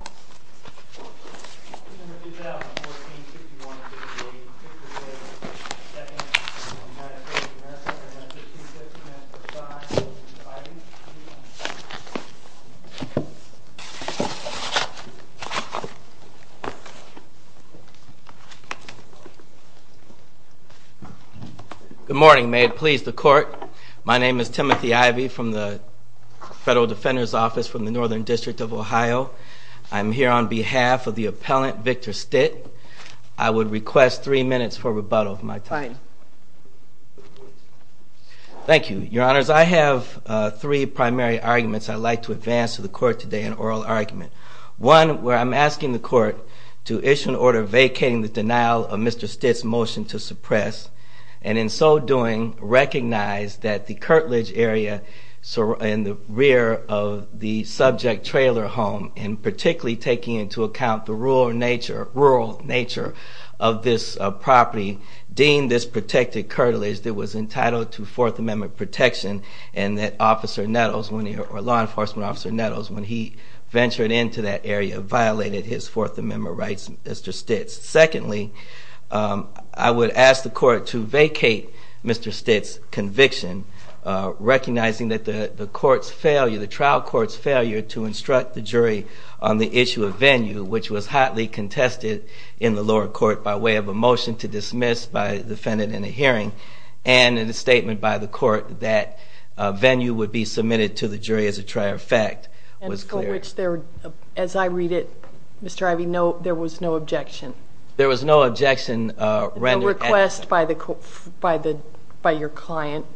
Good morning. May it please the court. My name is Timothy Ivey from the Federal Defender's Court of Ohio. I'm here on behalf of the appellant, Victor Stitt. I would request three minutes for rebuttal if my time. Fine. Thank you. Your Honors, I have three primary arguments I'd like to advance to the court today, an oral argument. One, where I'm asking the court to issue an order vacating the denial of Mr. Stitt's motion to suppress, and in so doing, recognize that the home, and particularly taking into account the rural nature of this property, deemed this protected curtilage that was entitled to Fourth Amendment protection, and that Officer Nettles, or Law Enforcement Officer Nettles, when he ventured into that area violated his Fourth Amendment rights, Mr. Stitt's. Secondly, I would ask the court to vacate Mr. Stitt's conviction, recognizing that the trial court's failure to instruct the jury on the issue of venue, which was hotly contested in the lower court by way of a motion to dismiss by defendant in a hearing, and in a statement by the court that venue would be submitted to the jury as a trier of fact. And for which, as I read it, Mr. Ivey, there was no objection. There was no objection rendered. No request by your client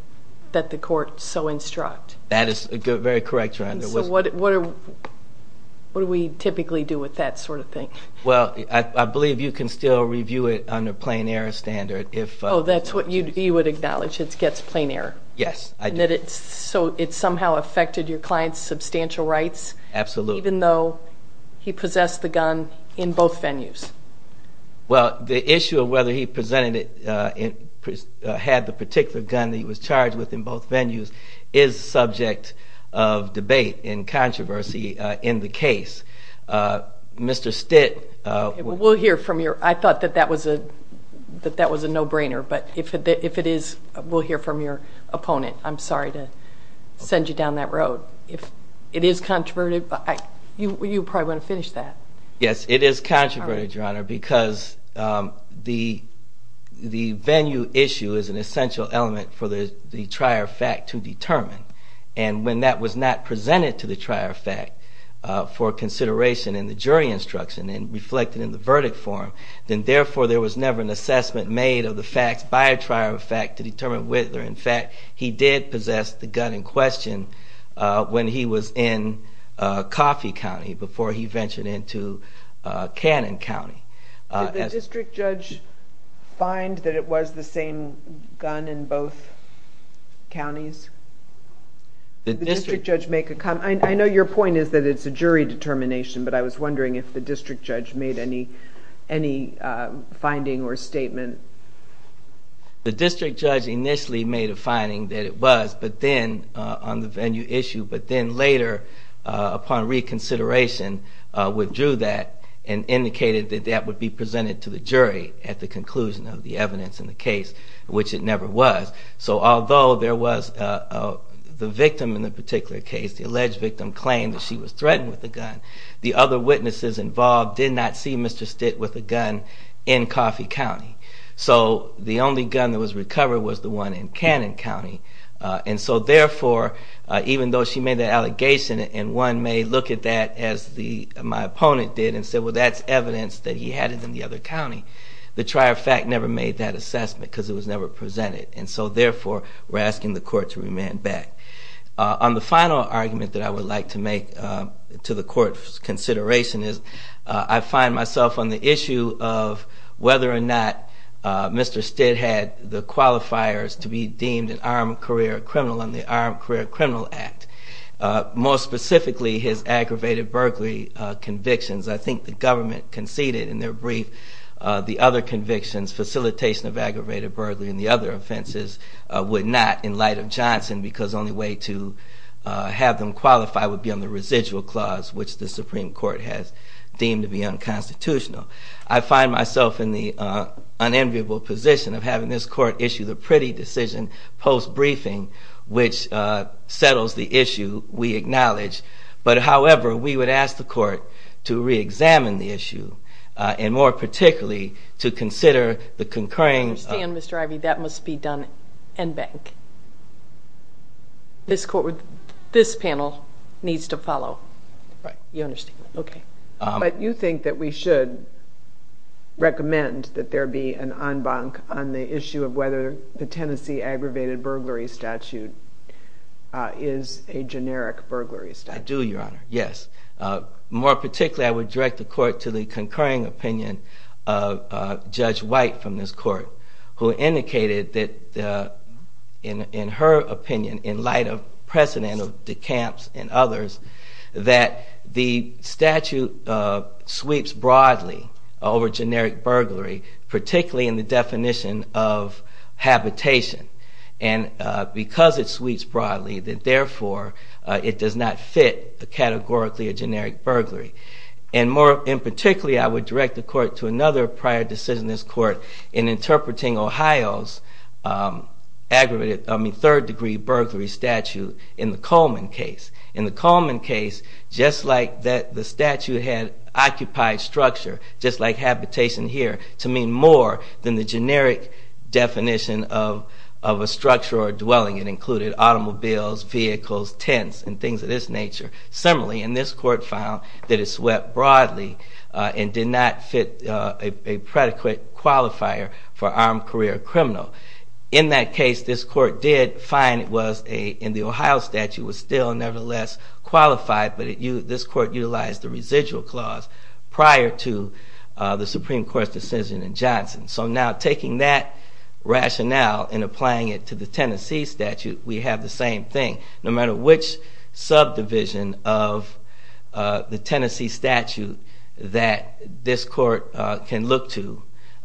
that the court so instruct. That is very correct, Your Honor. So what do we typically do with that sort of thing? Well, I believe you can still review it under plain error standard if. Oh, that's what you would acknowledge. It gets plain error. Yes, I do. So it somehow affected your client's substantial rights? Absolutely. Even though he possessed the gun in both venues? Well, the issue of whether he had the particular gun that he was charged with in both venues is subject of debate and controversy in the case. Mr. Stitt... I thought that that was a no-brainer. But if it is, we'll hear from your opponent. I'm sorry to send you down that road. If it is controversial, you probably want to finish that. Yes, it is controversial, Your Honor, because the venue issue is an essential element for the trier of fact to determine. And when that was not presented to the trier of fact for consideration in the jury instruction and reflected in the verdict form, then therefore there was never an assessment made of the facts by a trier of fact to determine whether, in fact, he did possess the gun in question when he was in Coffey County before he ventured into Cannon County. Did the district judge find that it was the same gun in both counties? Did the district judge make a comment? I know your point is that it's a jury determination, but I was wondering if the district judge made any finding or statement. The district judge initially made a finding that it was on the venue issue, but then later upon reconsideration withdrew that and indicated that that would be presented to the jury at the conclusion of the evidence in the case, which it never was. So although there was the victim in the particular case, the alleged victim claimed that she was threatened with the gun, the other witnesses involved did not see Mr. Stitt with a gun in Coffey County. So the only gun that was recovered was the one in Cannon County. And so therefore, even though she made that allegation and one may look at that as my opponent did and say, well, that's evidence that he had it in the other county, the trier of fact never made that assessment because it was never presented. And so therefore, we're asking the court to remand back. On the final argument that I would like to make to the court's consideration is I find myself on the issue of whether or not Mr. Qualifiers to be deemed an armed career criminal under the Armed Career Criminal Act. More specifically, his aggravated burglary convictions. I think the government conceded in their brief the other convictions, facilitation of aggravated burglary and the other offenses, would not in light of Johnson because the only way to have them qualify would be on the residual clause, which the Supreme Court has deemed to be unconstitutional. I find myself in the unenviable position of having this court issue the pretty decision post-briefing, which settles the issue we acknowledge. But however, we would ask the court to reexamine the issue and more particularly to consider the concurring... I understand, Mr. Ivey, that must be done en banc. This panel needs to follow. Right. You understand? Okay. But you think that we should recommend that there be an en banc on the issue of whether the Tennessee aggravated burglary statute is a generic burglary statute. I do, Your Honor, yes. More particularly, I would direct the court to the concurring opinion of Judge White from this court, who indicated that in her opinion, in light of precedent of DeCamps and others, that the statute sweeps broadly over generic burglary, particularly in the definition of habitation. And because it sweeps broadly, that therefore it does not fit categorically a generic burglary. And particularly, I would direct the court to another prior decision in this court in interpreting Ohio's third degree burglary statute in the Coleman case. In the Coleman case, just like the statute had occupied structure, just like habitation here, to mean more than the generic definition of a structure or a dwelling. It included automobiles, vehicles, tents, and things of this nature. Similarly, and this court found that it swept broadly and did not fit a predicate qualifier for armed career criminal. In that case, this court did find it was, in the Ohio statute, was still nevertheless qualified, but this court utilized the residual clause prior to the Supreme Court's decision in Johnson. So now taking that rationale and applying it to the Tennessee statute, we have the same thing. No matter which subdivision of the Tennessee statute that this court can look to,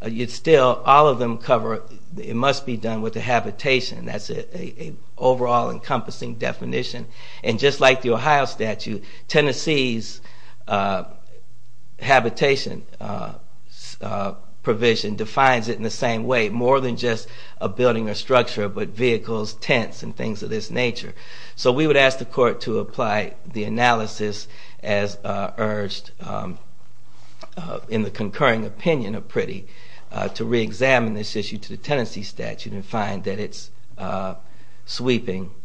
you'd still, all of them cover, it must be done with the habitation. That's an overall encompassing definition. And just like the Ohio statute, Tennessee's habitation provision defines it in the same way. More than just a building or structure, but vehicles, tents, and things of this nature. So we would ask the court to apply the analysis as urged in the concurring opinion of Priddy to reexamine this issue to the Tennessee statute and find that it sweeps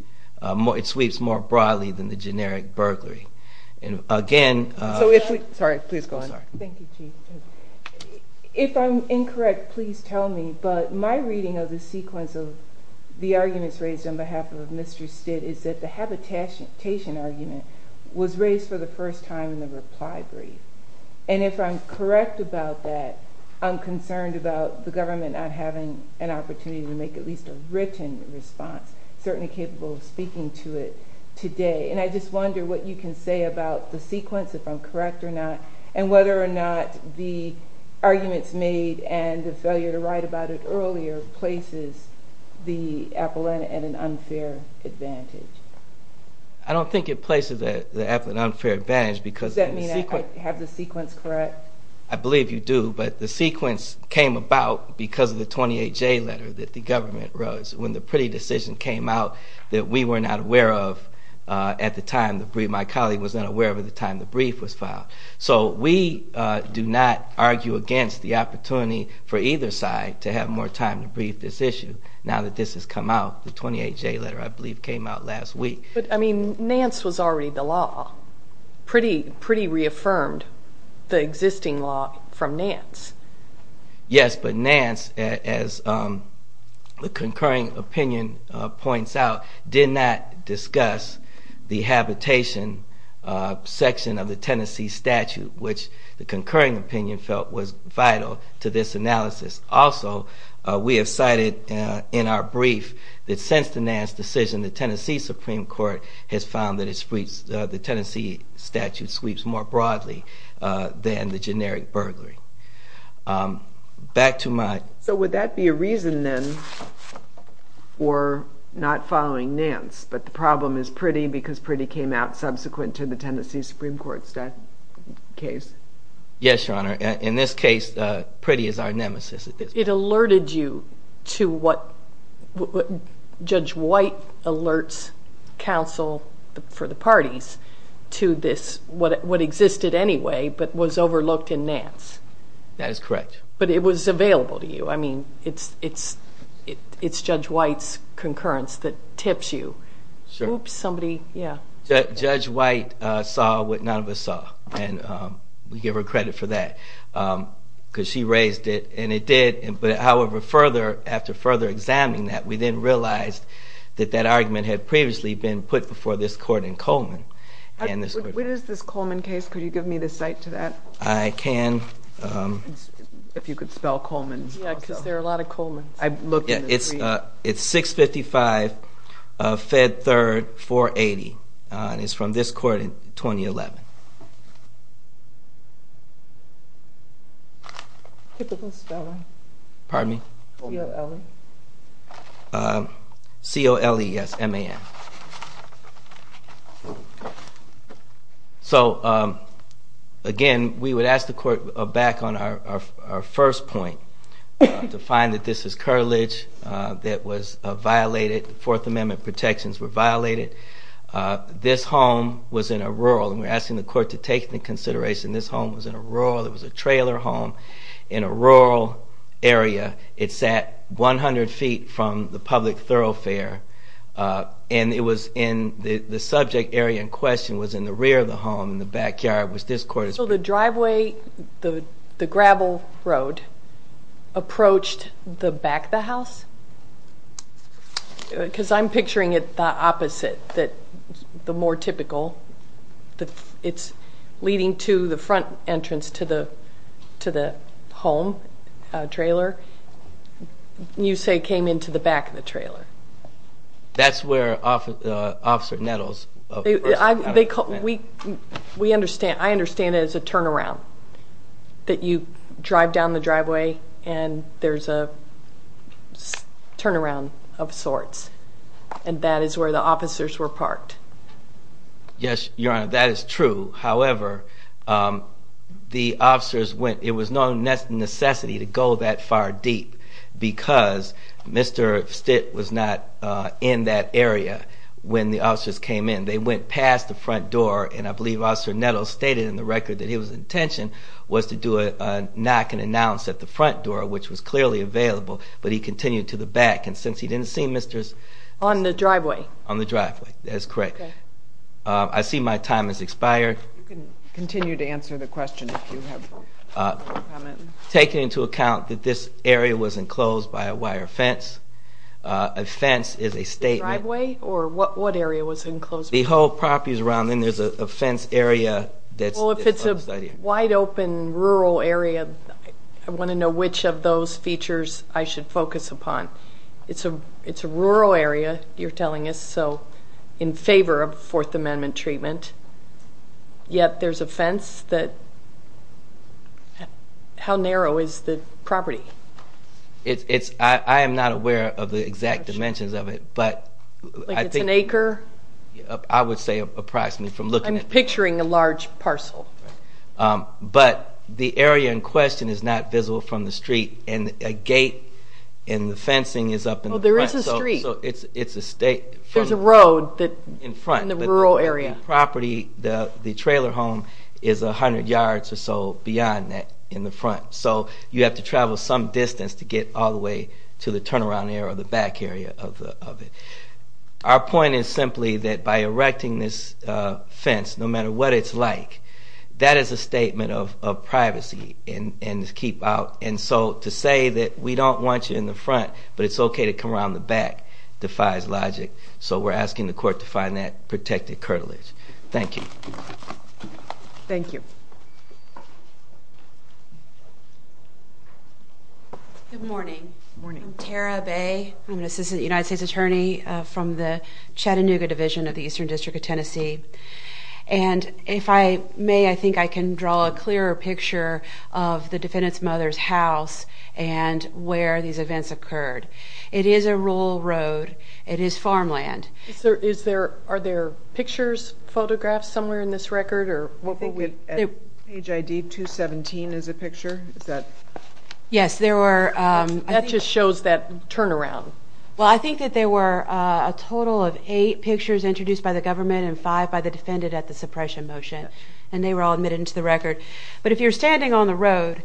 more broadly than the generic burglary. If I'm incorrect, please tell me, but my reading of the sequence of the arguments raised on behalf of Mr. Stitt is that the habitation argument was raised for the first time in the reply brief. And if I'm correct about that, I'm concerned about the government not having an opportunity to make at least a written response, certainly capable of speaking to it today. And I just wonder what you can say about the sequence, if I'm correct or not, and whether or not the arguments made and the failure to write about it earlier places the appellant at an unfair advantage. I don't think it places the appellant at an unfair advantage because of the sequence. Does that mean I have the sequence correct? I believe you do, but the sequence came about because of the 28J letter that the government wrote when the Priddy decision came out that we were not aware of at the time. My colleague was not aware of it at the time the brief was filed. So we do not argue against the opportunity for either side to have more time to brief this issue now that this has come out, the 28J letter I believe came out last week. But, I mean, Nance was already the law. Priddy reaffirmed the existing law from Nance. Yes, but Nance, as the concurring opinion points out, did not discuss the habitation section of the Tennessee statute, which the concurring opinion felt was vital to this analysis. Also, we have cited in our brief that since the Nance decision, the Tennessee Supreme Court has found that the Tennessee statute sweeps more broadly than the generic burglary. Back to my... So would that be a reason then for not following Nance, but the problem is Priddy because Priddy came out subsequent to the Tennessee Supreme Court's case? Yes, Your Honor. In this case, Priddy is our nemesis. It alerted you to what Judge White alerts counsel for the parties to this, which is what existed anyway but was overlooked in Nance. That is correct. But it was available to you. I mean, it's Judge White's concurrence that tips you. Sure. Oops, somebody. Yeah. Judge White saw what none of us saw, and we give her credit for that because she raised it, and it did. However, after further examining that, we then realized that that argument had previously been put before this Court in Coleman. What is this Coleman case? Could you give me the cite to that? I can. If you could spell Coleman. Yeah, because there are a lot of Colemans. It's 655 Fed Third 480, and it's from this court in 2011. Typical spelling. Pardon me? C-O-L-E. C-O-L-E, yes, M-A-N. So, again, we would ask the Court back on our first point to find that this is curtilage that was violated. Fourth Amendment protections were violated. This home was in a rural, and we're asking the Court to take the consideration this home was in a rural. It was a trailer home in a rural area. It sat 100 feet from the public thoroughfare, and the subject area in question was in the rear of the home, and the backyard was this court's. So the driveway, the gravel road, approached the back of the house? Because I'm picturing it the opposite, the more typical. It's leading to the front entrance to the home trailer. You say it came into the back of the trailer. That's where Officer Nettles was. I understand it as a turnaround, that you drive down the driveway and there's a turnaround of sorts, and that is where the officers were parked. Yes, Your Honor, that is true. However, it was no necessity to go that far deep because Mr. Stitt was not in that area when the officers came in. They went past the front door, and I believe Officer Nettles stated in the record that his intention was to do a knock and announce at the front door, which was clearly available, but he continued to the back, and since he didn't see Mr. Stitt. On the driveway. On the driveway, that is correct. I see my time has expired. You can continue to answer the question if you have a comment. Take into account that this area was enclosed by a wire fence. A fence is a statement. The driveway, or what area was enclosed? The whole property is around, and there's a fence area. Well, if it's a wide-open rural area, I want to know which of those features I should focus upon. It's a rural area, you're telling us, so in favor of Fourth Amendment treatment, yet there's a fence that, how narrow is the property? I am not aware of the exact dimensions of it, but I think. Like it's an acre? I would say approximately from looking at it. I'm picturing a large parcel. But the area in question is not visible from the street, and a gate in the fencing is up in the front. There is a street. It's a state. There's a road in the rural area. The property, the trailer home, is 100 yards or so beyond that in the front. So you have to travel some distance to get all the way to the turnaround area or the back area of it. Our point is simply that by erecting this fence, no matter what it's like, that is a statement of privacy and to keep out. And so to say that we don't want you in the front but it's okay to come around the back defies logic. So we're asking the court to find that protected curtilage. Thank you. Thank you. Good morning. Good morning. I'm Tara Bay. I'm an assistant United States attorney from the Chattanooga Division of the Eastern District of Tennessee. And if I may, I think I can draw a clearer picture of the defendant's mother's house and where these events occurred. It is a rural road. It is farmland. Are there pictures, photographs somewhere in this record? Page ID 217 is a picture. Yes, there were. That just shows that turnaround. Well, I think that there were a total of eight pictures introduced by the government and five by the defendant at the suppression motion. And they were all admitted into the record. But if you're standing on the road,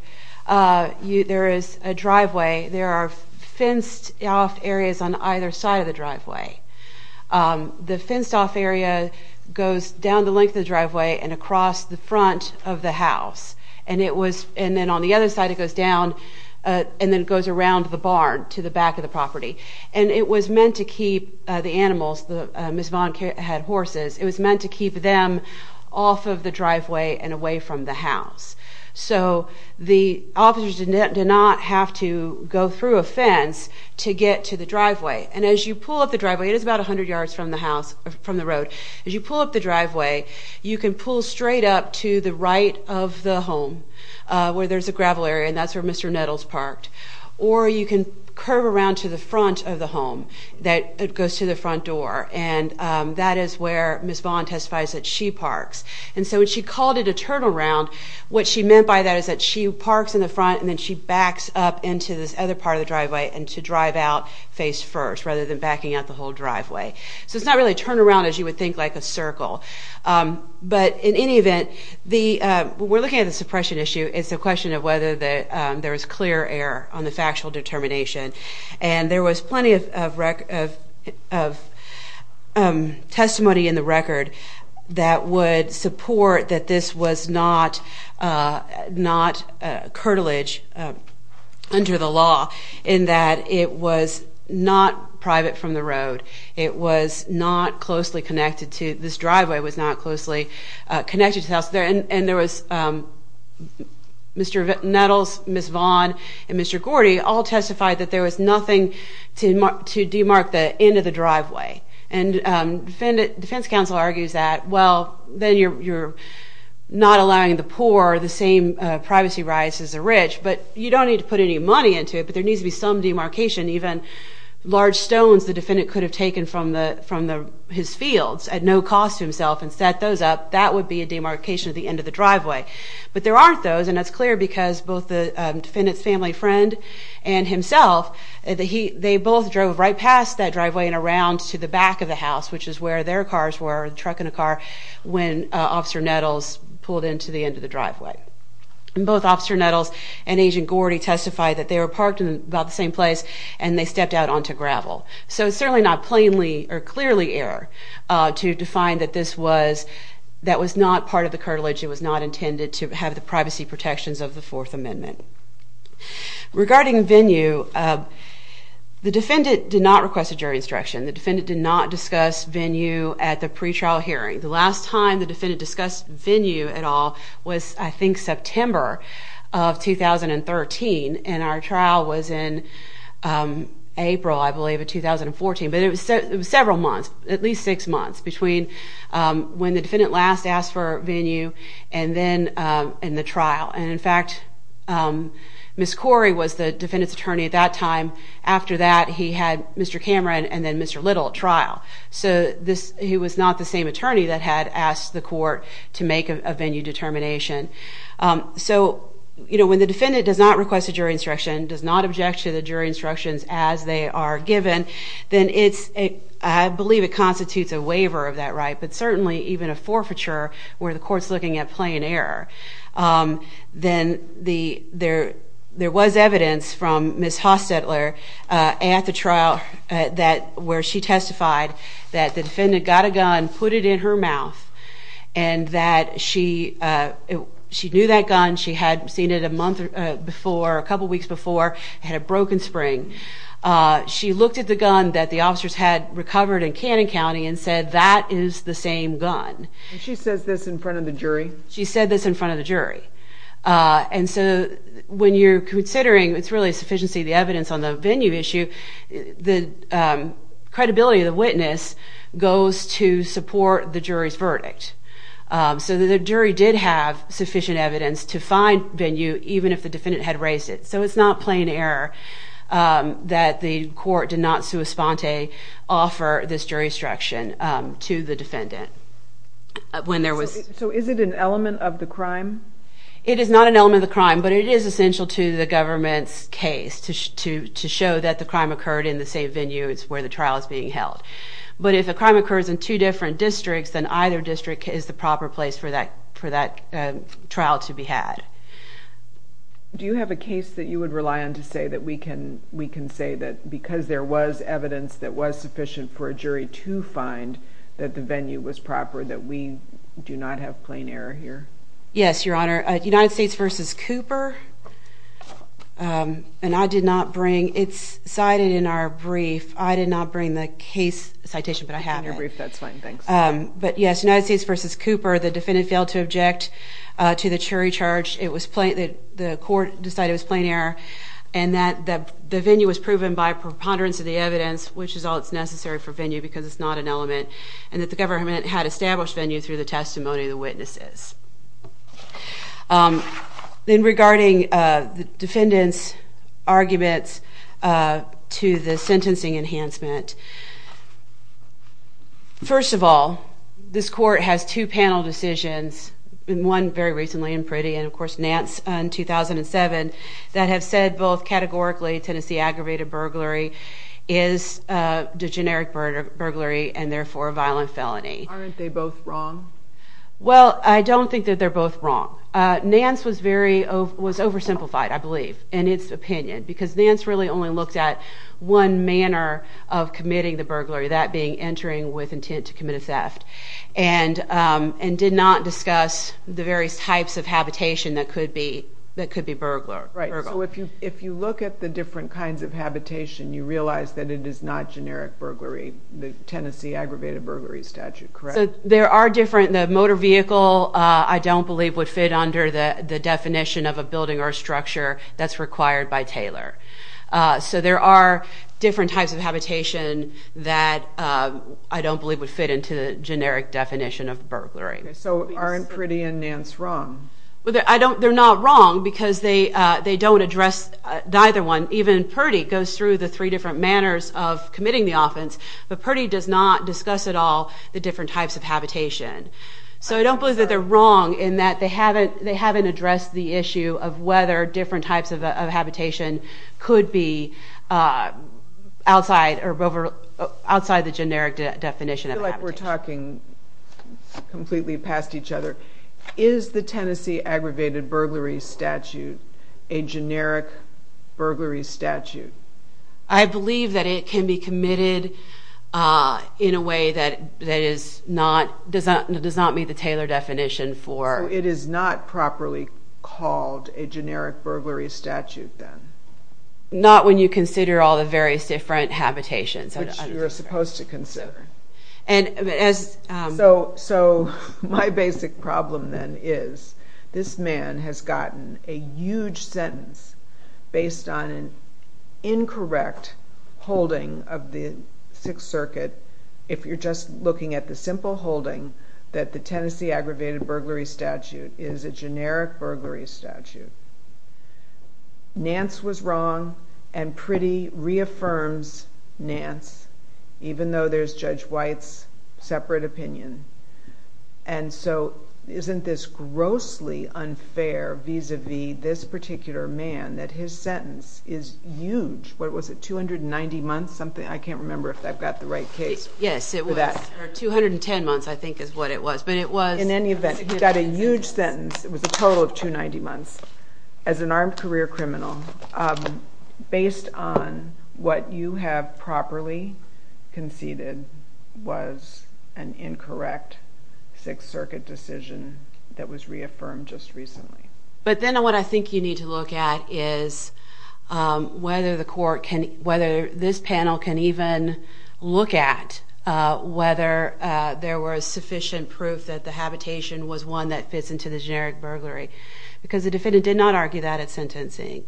there is a driveway. There are fenced-off areas on either side of the driveway. The fenced-off area goes down the length of the driveway and across the front of the house. And then on the other side, it goes down and then goes around the barn to the back of the property. And it was meant to keep the animals. Ms. Vaughn had horses. It was meant to keep them off of the driveway and away from the house. So the officers did not have to go through a fence to get to the driveway. And as you pull up the driveway, it is about 100 yards from the road. As you pull up the driveway, you can pull straight up to the right of the home where there's a gravel area, and that's where Mr. Nettles parked. Or you can curve around to the front of the home that goes to the front door. And that is where Ms. Vaughn testifies that she parks. And so when she called it a turnaround, what she meant by that is that she parks in the front and then she backs up into this other part of the driveway and to drive out face-first rather than backing out the whole driveway. So it's not really a turnaround as you would think, like a circle. But in any event, we're looking at the suppression issue. It's a question of whether there is clear error on the factual determination. And there was plenty of testimony in the record that would support that this was not curtilage under the law in that it was not private from the road. It was not closely connected to this driveway. It was not closely connected to the house. And there was Mr. Nettles, Ms. Vaughn, and Mr. Gordy all testified that there was nothing to demark the end of the driveway. And defense counsel argues that, well, then you're not allowing the poor the same privacy rights as the rich, but you don't need to put any money into it, but there needs to be some demarcation. And even large stones the defendant could have taken from his fields at no cost to himself and set those up, that would be a demarcation of the end of the driveway. But there aren't those, and that's clear because both the defendant's family friend and himself, they both drove right past that driveway and around to the back of the house, which is where their cars were, a truck and a car, when Officer Nettles pulled into the end of the driveway. And both Officer Nettles and Agent Gordy testified that they were parked in about the same place and they stepped out onto gravel. So it's certainly not plainly or clearly error to define that this was not part of the cartilage. It was not intended to have the privacy protections of the Fourth Amendment. Regarding venue, the defendant did not request a jury instruction. The defendant did not discuss venue at the pretrial hearing. The last time the defendant discussed venue at all was, I think, September of 2013, and our trial was in April, I believe, of 2014. But it was several months, at least six months, between when the defendant last asked for venue and then in the trial. And, in fact, Ms. Corey was the defendant's attorney at that time. After that, he had Mr. Cameron and then Mr. Little at trial. So he was not the same attorney that had asked the court to make a venue determination. So, you know, when the defendant does not request a jury instruction, does not object to the jury instructions as they are given, then I believe it constitutes a waiver of that right, but certainly even a forfeiture where the court's looking at plain error. Then there was evidence from Ms. Hostetler at the trial where she testified that the defendant got a gun, put it in her mouth, and that she knew that gun, she had seen it a month before, a couple weeks before, had a broken spring. She looked at the gun that the officers had recovered in Cannon County and said, that is the same gun. And she says this in front of the jury? She said this in front of the jury. And so when you're considering, it's really a sufficiency of the evidence on the venue issue, the credibility of the witness goes to support the jury's verdict. So the jury did have sufficient evidence to find venue even if the defendant had raised it. So it's not plain error that the court did not sui sponte offer this jury instruction to the defendant when there was. So is it an element of the crime? It is not an element of the crime, but it is essential to the government's case to show that the crime occurred in the same venue as where the trial is being held. But if a crime occurs in two different districts, then either district is the proper place for that trial to be had. Do you have a case that you would rely on to say that we can say that because there was evidence that was sufficient for a jury to find that the venue was proper, that we do not have plain error here? Yes, Your Honor. United States v. Cooper, and I did not bring, it's cited in our brief. I did not bring the case citation, but I have it. In your brief, that's fine, thanks. But yes, United States v. Cooper, the defendant failed to object to the jury charge. The court decided it was plain error and that the venue was proven by preponderance of the evidence, which is all that's necessary for venue because it's not an element, and that the government had established venue through the testimony of the witnesses. Then regarding the defendant's arguments to the sentencing enhancement, first of all, this court has two panel decisions, one very recently in Priddy and, of course, Nance in 2007, that have said both categorically Tennessee aggravated burglary is a generic burglary and therefore a violent felony. Aren't they both wrong? Well, I don't think that they're both wrong. Nance was very, was oversimplified, I believe, in its opinion, because Nance really only looked at one manner of committing the burglary, that being entering with intent to commit a theft, and did not discuss the various types of habitation that could be burglar. Right. So if you look at the different kinds of habitation, you realize that it is not generic burglary, the Tennessee aggravated burglary statute, correct? So there are different, the motor vehicle, I don't believe, would fit under the definition of a building or a structure that's required by Taylor. So there are different types of habitation that I don't believe would fit into the generic definition of burglary. So aren't Priddy and Nance wrong? They're not wrong because they don't address either one. Even Priddy goes through the three different manners of committing the offense, but Priddy does not discuss at all the different types of habitation. So I don't believe that they're wrong in that they haven't addressed the issue of whether different types of habitation could be outside the generic definition of habitation. I feel like we're talking completely past each other. Is the Tennessee aggravated burglary statute a generic burglary statute? I believe that it can be committed in a way that does not meet the Taylor definition for... So it is not properly called a generic burglary statute then? Not when you consider all the various different habitations. Which you're supposed to consider. So my basic problem then is this man has gotten a huge sentence that if you're just looking at the simple holding that the Tennessee aggravated burglary statute is a generic burglary statute. Nance was wrong and Priddy reaffirms Nance, even though there's Judge White's separate opinion. And so isn't this grossly unfair vis-a-vis this particular man that his sentence is huge? Was it 290 months? I can't remember if I've got the right case for that. Yes, it was. Or 210 months I think is what it was. In any event, he got a huge sentence. It was a total of 290 months. As an armed career criminal, based on what you have properly conceded was an incorrect Sixth Circuit decision that was reaffirmed just recently. But then what I think you need to look at is whether this panel can even look at whether there was sufficient proof that the habitation was one that fits into the generic burglary. Because the defendant did not argue that at sentencing.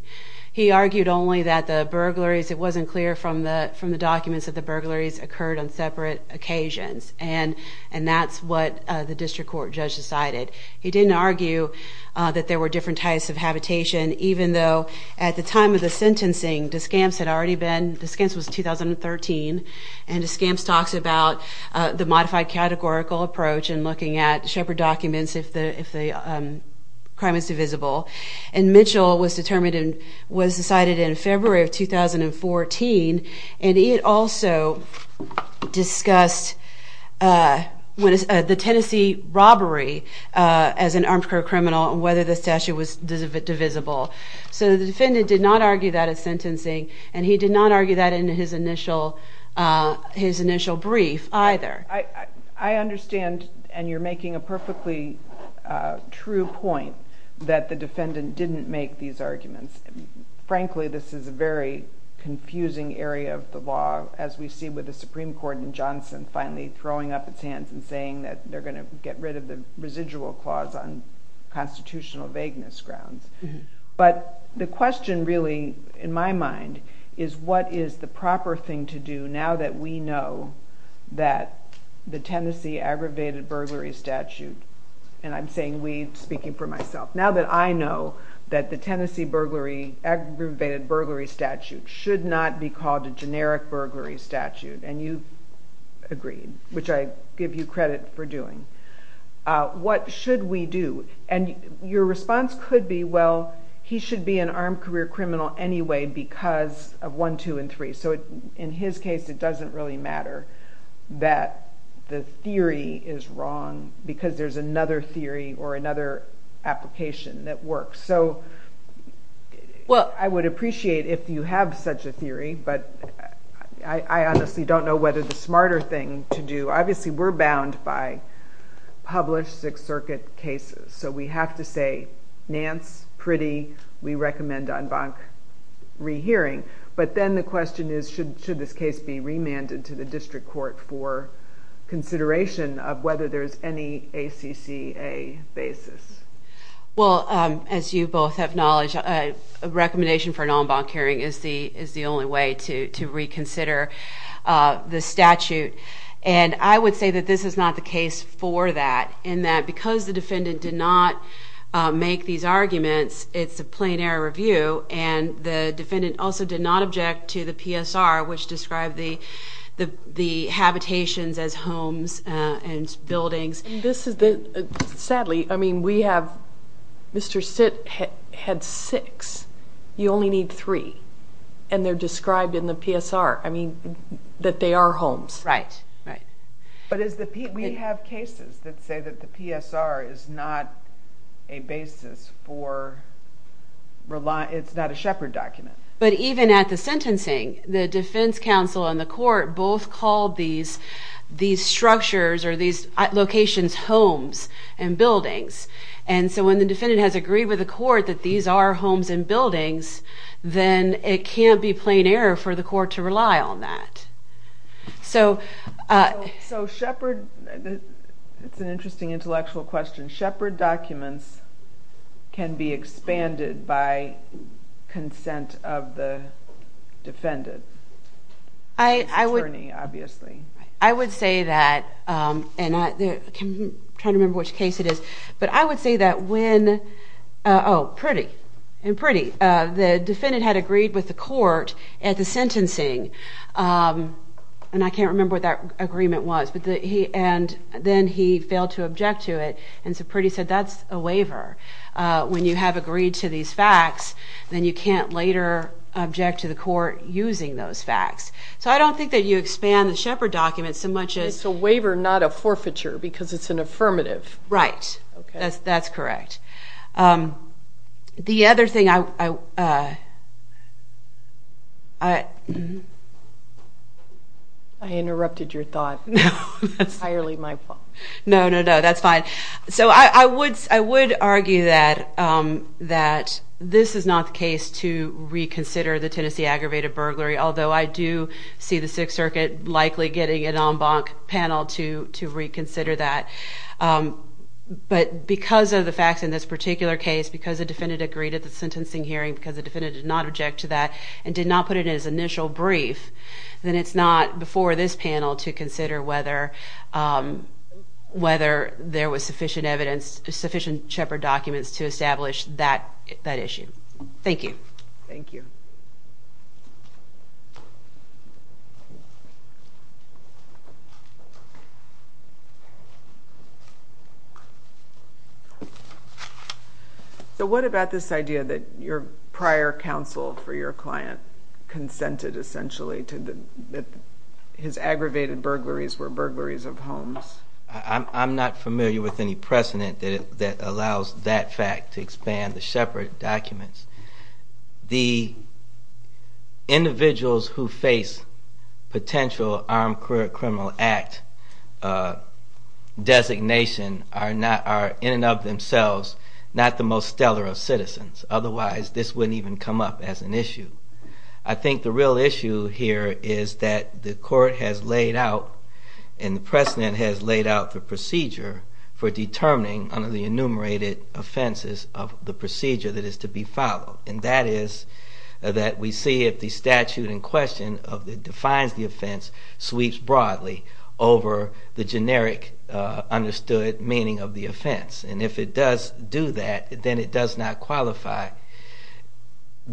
He argued only that the burglaries, it wasn't clear from the documents, that the burglaries occurred on separate occasions. And that's what the district court judge decided. He didn't argue that there were different types of habitation, even though at the time of the sentencing, Descamps had already been, Descamps was 2013, and Descamps talks about the modified categorical approach and looking at Shepard documents if the crime is divisible. And Mitchell was decided in February of 2014, and he had also discussed the Tennessee robbery as an armed career criminal and whether the statute was divisible. So the defendant did not argue that at sentencing, and he did not argue that in his initial brief either. I understand, and you're making a perfectly true point, that the defendant didn't make these arguments. Frankly, this is a very confusing area of the law, as we see with the Supreme Court and Johnson finally throwing up its hands and saying that they're going to get rid of the residual clause on constitutional vagueness grounds. But the question really, in my mind, is what is the proper thing to do now that we know that the Tennessee aggravated burglary statute, and I'm saying we, speaking for myself, now that I know that the Tennessee aggravated burglary statute should not be called a generic burglary statute, and you've agreed, which I give you credit for doing, what should we do? And your response could be, well, he should be an armed career criminal anyway because of 1, 2, and 3. So in his case, it doesn't really matter that the theory is wrong because there's another theory or another application that works. So I would appreciate if you have such a theory, but I honestly don't know whether the smarter thing to do. Obviously, we're bound by published Sixth Circuit cases, so we have to say, Nance, pretty, we recommend en banc rehearing. But then the question is, should this case be remanded to the district court for consideration of whether there's any ACCA basis? Well, as you both have knowledge, a recommendation for an en banc hearing is the only way to reconsider the statute. And I would say that this is not the case for that, in that because the defendant did not make these arguments, it's a plain error review, and the defendant also did not object to the PSR, which described the habitations as homes and buildings. And this is the, sadly, I mean, we have, Mr. Sitt had six. You only need three. And they're described in the PSR, I mean, that they are homes. Right, right. But we have cases that say that the PSR is not a basis for, it's not a Shepard document. But even at the sentencing, the defense counsel and the court both called these structures or these locations homes and buildings. And so when the defendant has agreed with the court that these are homes and buildings, then it can't be plain error for the court to rely on that. So Shepard, it's an interesting intellectual question, and Shepard documents can be expanded by consent of the defendant, attorney, obviously. I would say that, and I'm trying to remember which case it is, but I would say that when, oh, pretty, pretty, the defendant had agreed with the court at the sentencing, and I can't remember what that agreement was, and then he failed to object to it, and so pretty said, that's a waiver. When you have agreed to these facts, then you can't later object to the court using those facts. So I don't think that you expand the Shepard document so much as... It's a waiver, not a forfeiture, because it's an affirmative. Right, that's correct. The other thing I... I interrupted your thought. No, that's fine. Entirely my fault. No, no, no, that's fine. So I would argue that this is not the case to reconsider the Tennessee aggravated burglary, although I do see the Sixth Circuit likely getting an en banc panel to reconsider that. But because of the facts in this particular case, because the defendant agreed at the sentencing hearing, because the defendant did not object to that and did not put it in his initial brief, then it's not before this panel to consider whether there was sufficient evidence, sufficient Shepard documents to establish that issue. Thank you. Thank you. Thank you. So what about this idea that your prior counsel for your client consented essentially that his aggravated burglaries were burglaries of homes? I'm not familiar with any precedent that allows that fact to expand the Shepard documents. The individuals who face potential Armed Career Criminal Act designation are in and of themselves not the most stellar of citizens. Otherwise, this wouldn't even come up as an issue. I think the real issue here is that the court has laid out and the precedent has laid out the procedure for determining under the enumerated offenses of the procedure that is to be followed. And that is that we see if the statute in question that defines the offense sweeps broadly over the generic understood meaning of the offense. And if it does do that, then it does not qualify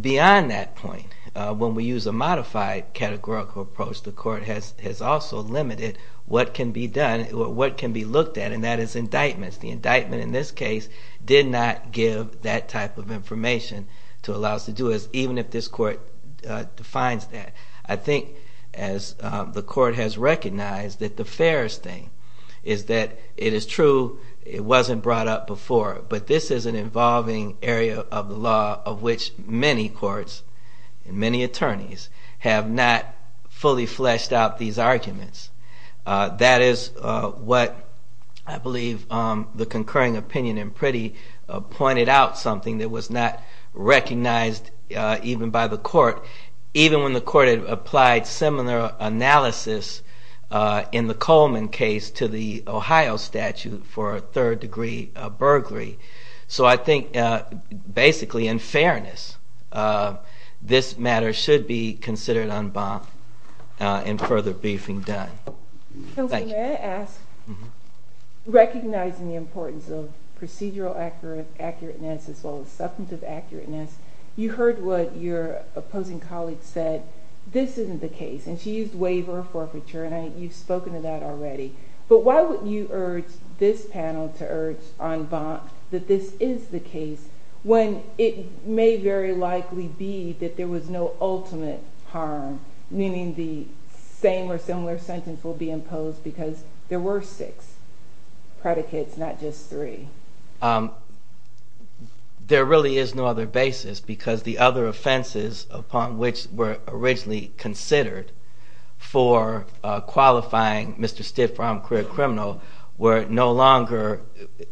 beyond that point. When we use a modified categorical approach, the court has also limited what can be done or what can be looked at, and that is indictments. The indictment in this case did not give that type of information to allow us to do it, even if this court defines that. I think as the court has recognized that the fairest thing is that it is true it wasn't brought up before, but this is an involving area of the law of which many courts and many attorneys have not fully fleshed out these arguments. That is what I believe the concurring opinion in Priddy pointed out something that was not recognized even by the court, even when the court had applied similar analysis in the Coleman case to the Ohio statute for a third-degree burglary. So I think basically in fairness, this matter should be considered en bas and further briefing done. Thank you. Counsel, may I ask, recognizing the importance of procedural accurateness as well as substantive accurateness, you heard what your opposing colleague said, this isn't the case, and she used waiver or forfeiture, and you've spoken to that already. But why would you urge this panel to urge en bas that this is the case when it may very likely be that there was no ultimate harm, meaning the same or similar sentence will be imposed because there were six predicates, not just three? There really is no other basis because the other offenses upon which were originally considered for qualifying Mr. Stitt for armed career criminal were no longer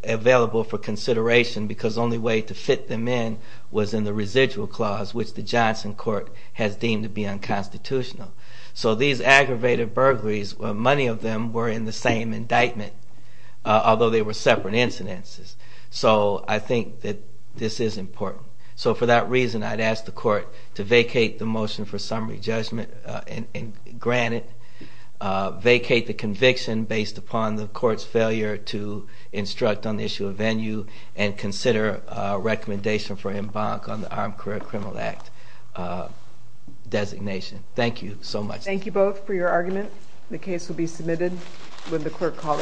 available for consideration because the only way to fit them in was in the residual clause, which the Johnson court has deemed to be unconstitutional. So these aggravated burglaries, many of them were in the same indictment, although they were separate incidences. So I think that this is important. So for that reason, I'd ask the court to vacate the motion for summary judgment and grant it, vacate the conviction based upon the court's failure to instruct on the issue of venue, and consider a recommendation for en bas on the Armed Career Criminal Act designation. Thank you so much. Thank you both for your argument. The case will be submitted when the clerk calls the next case.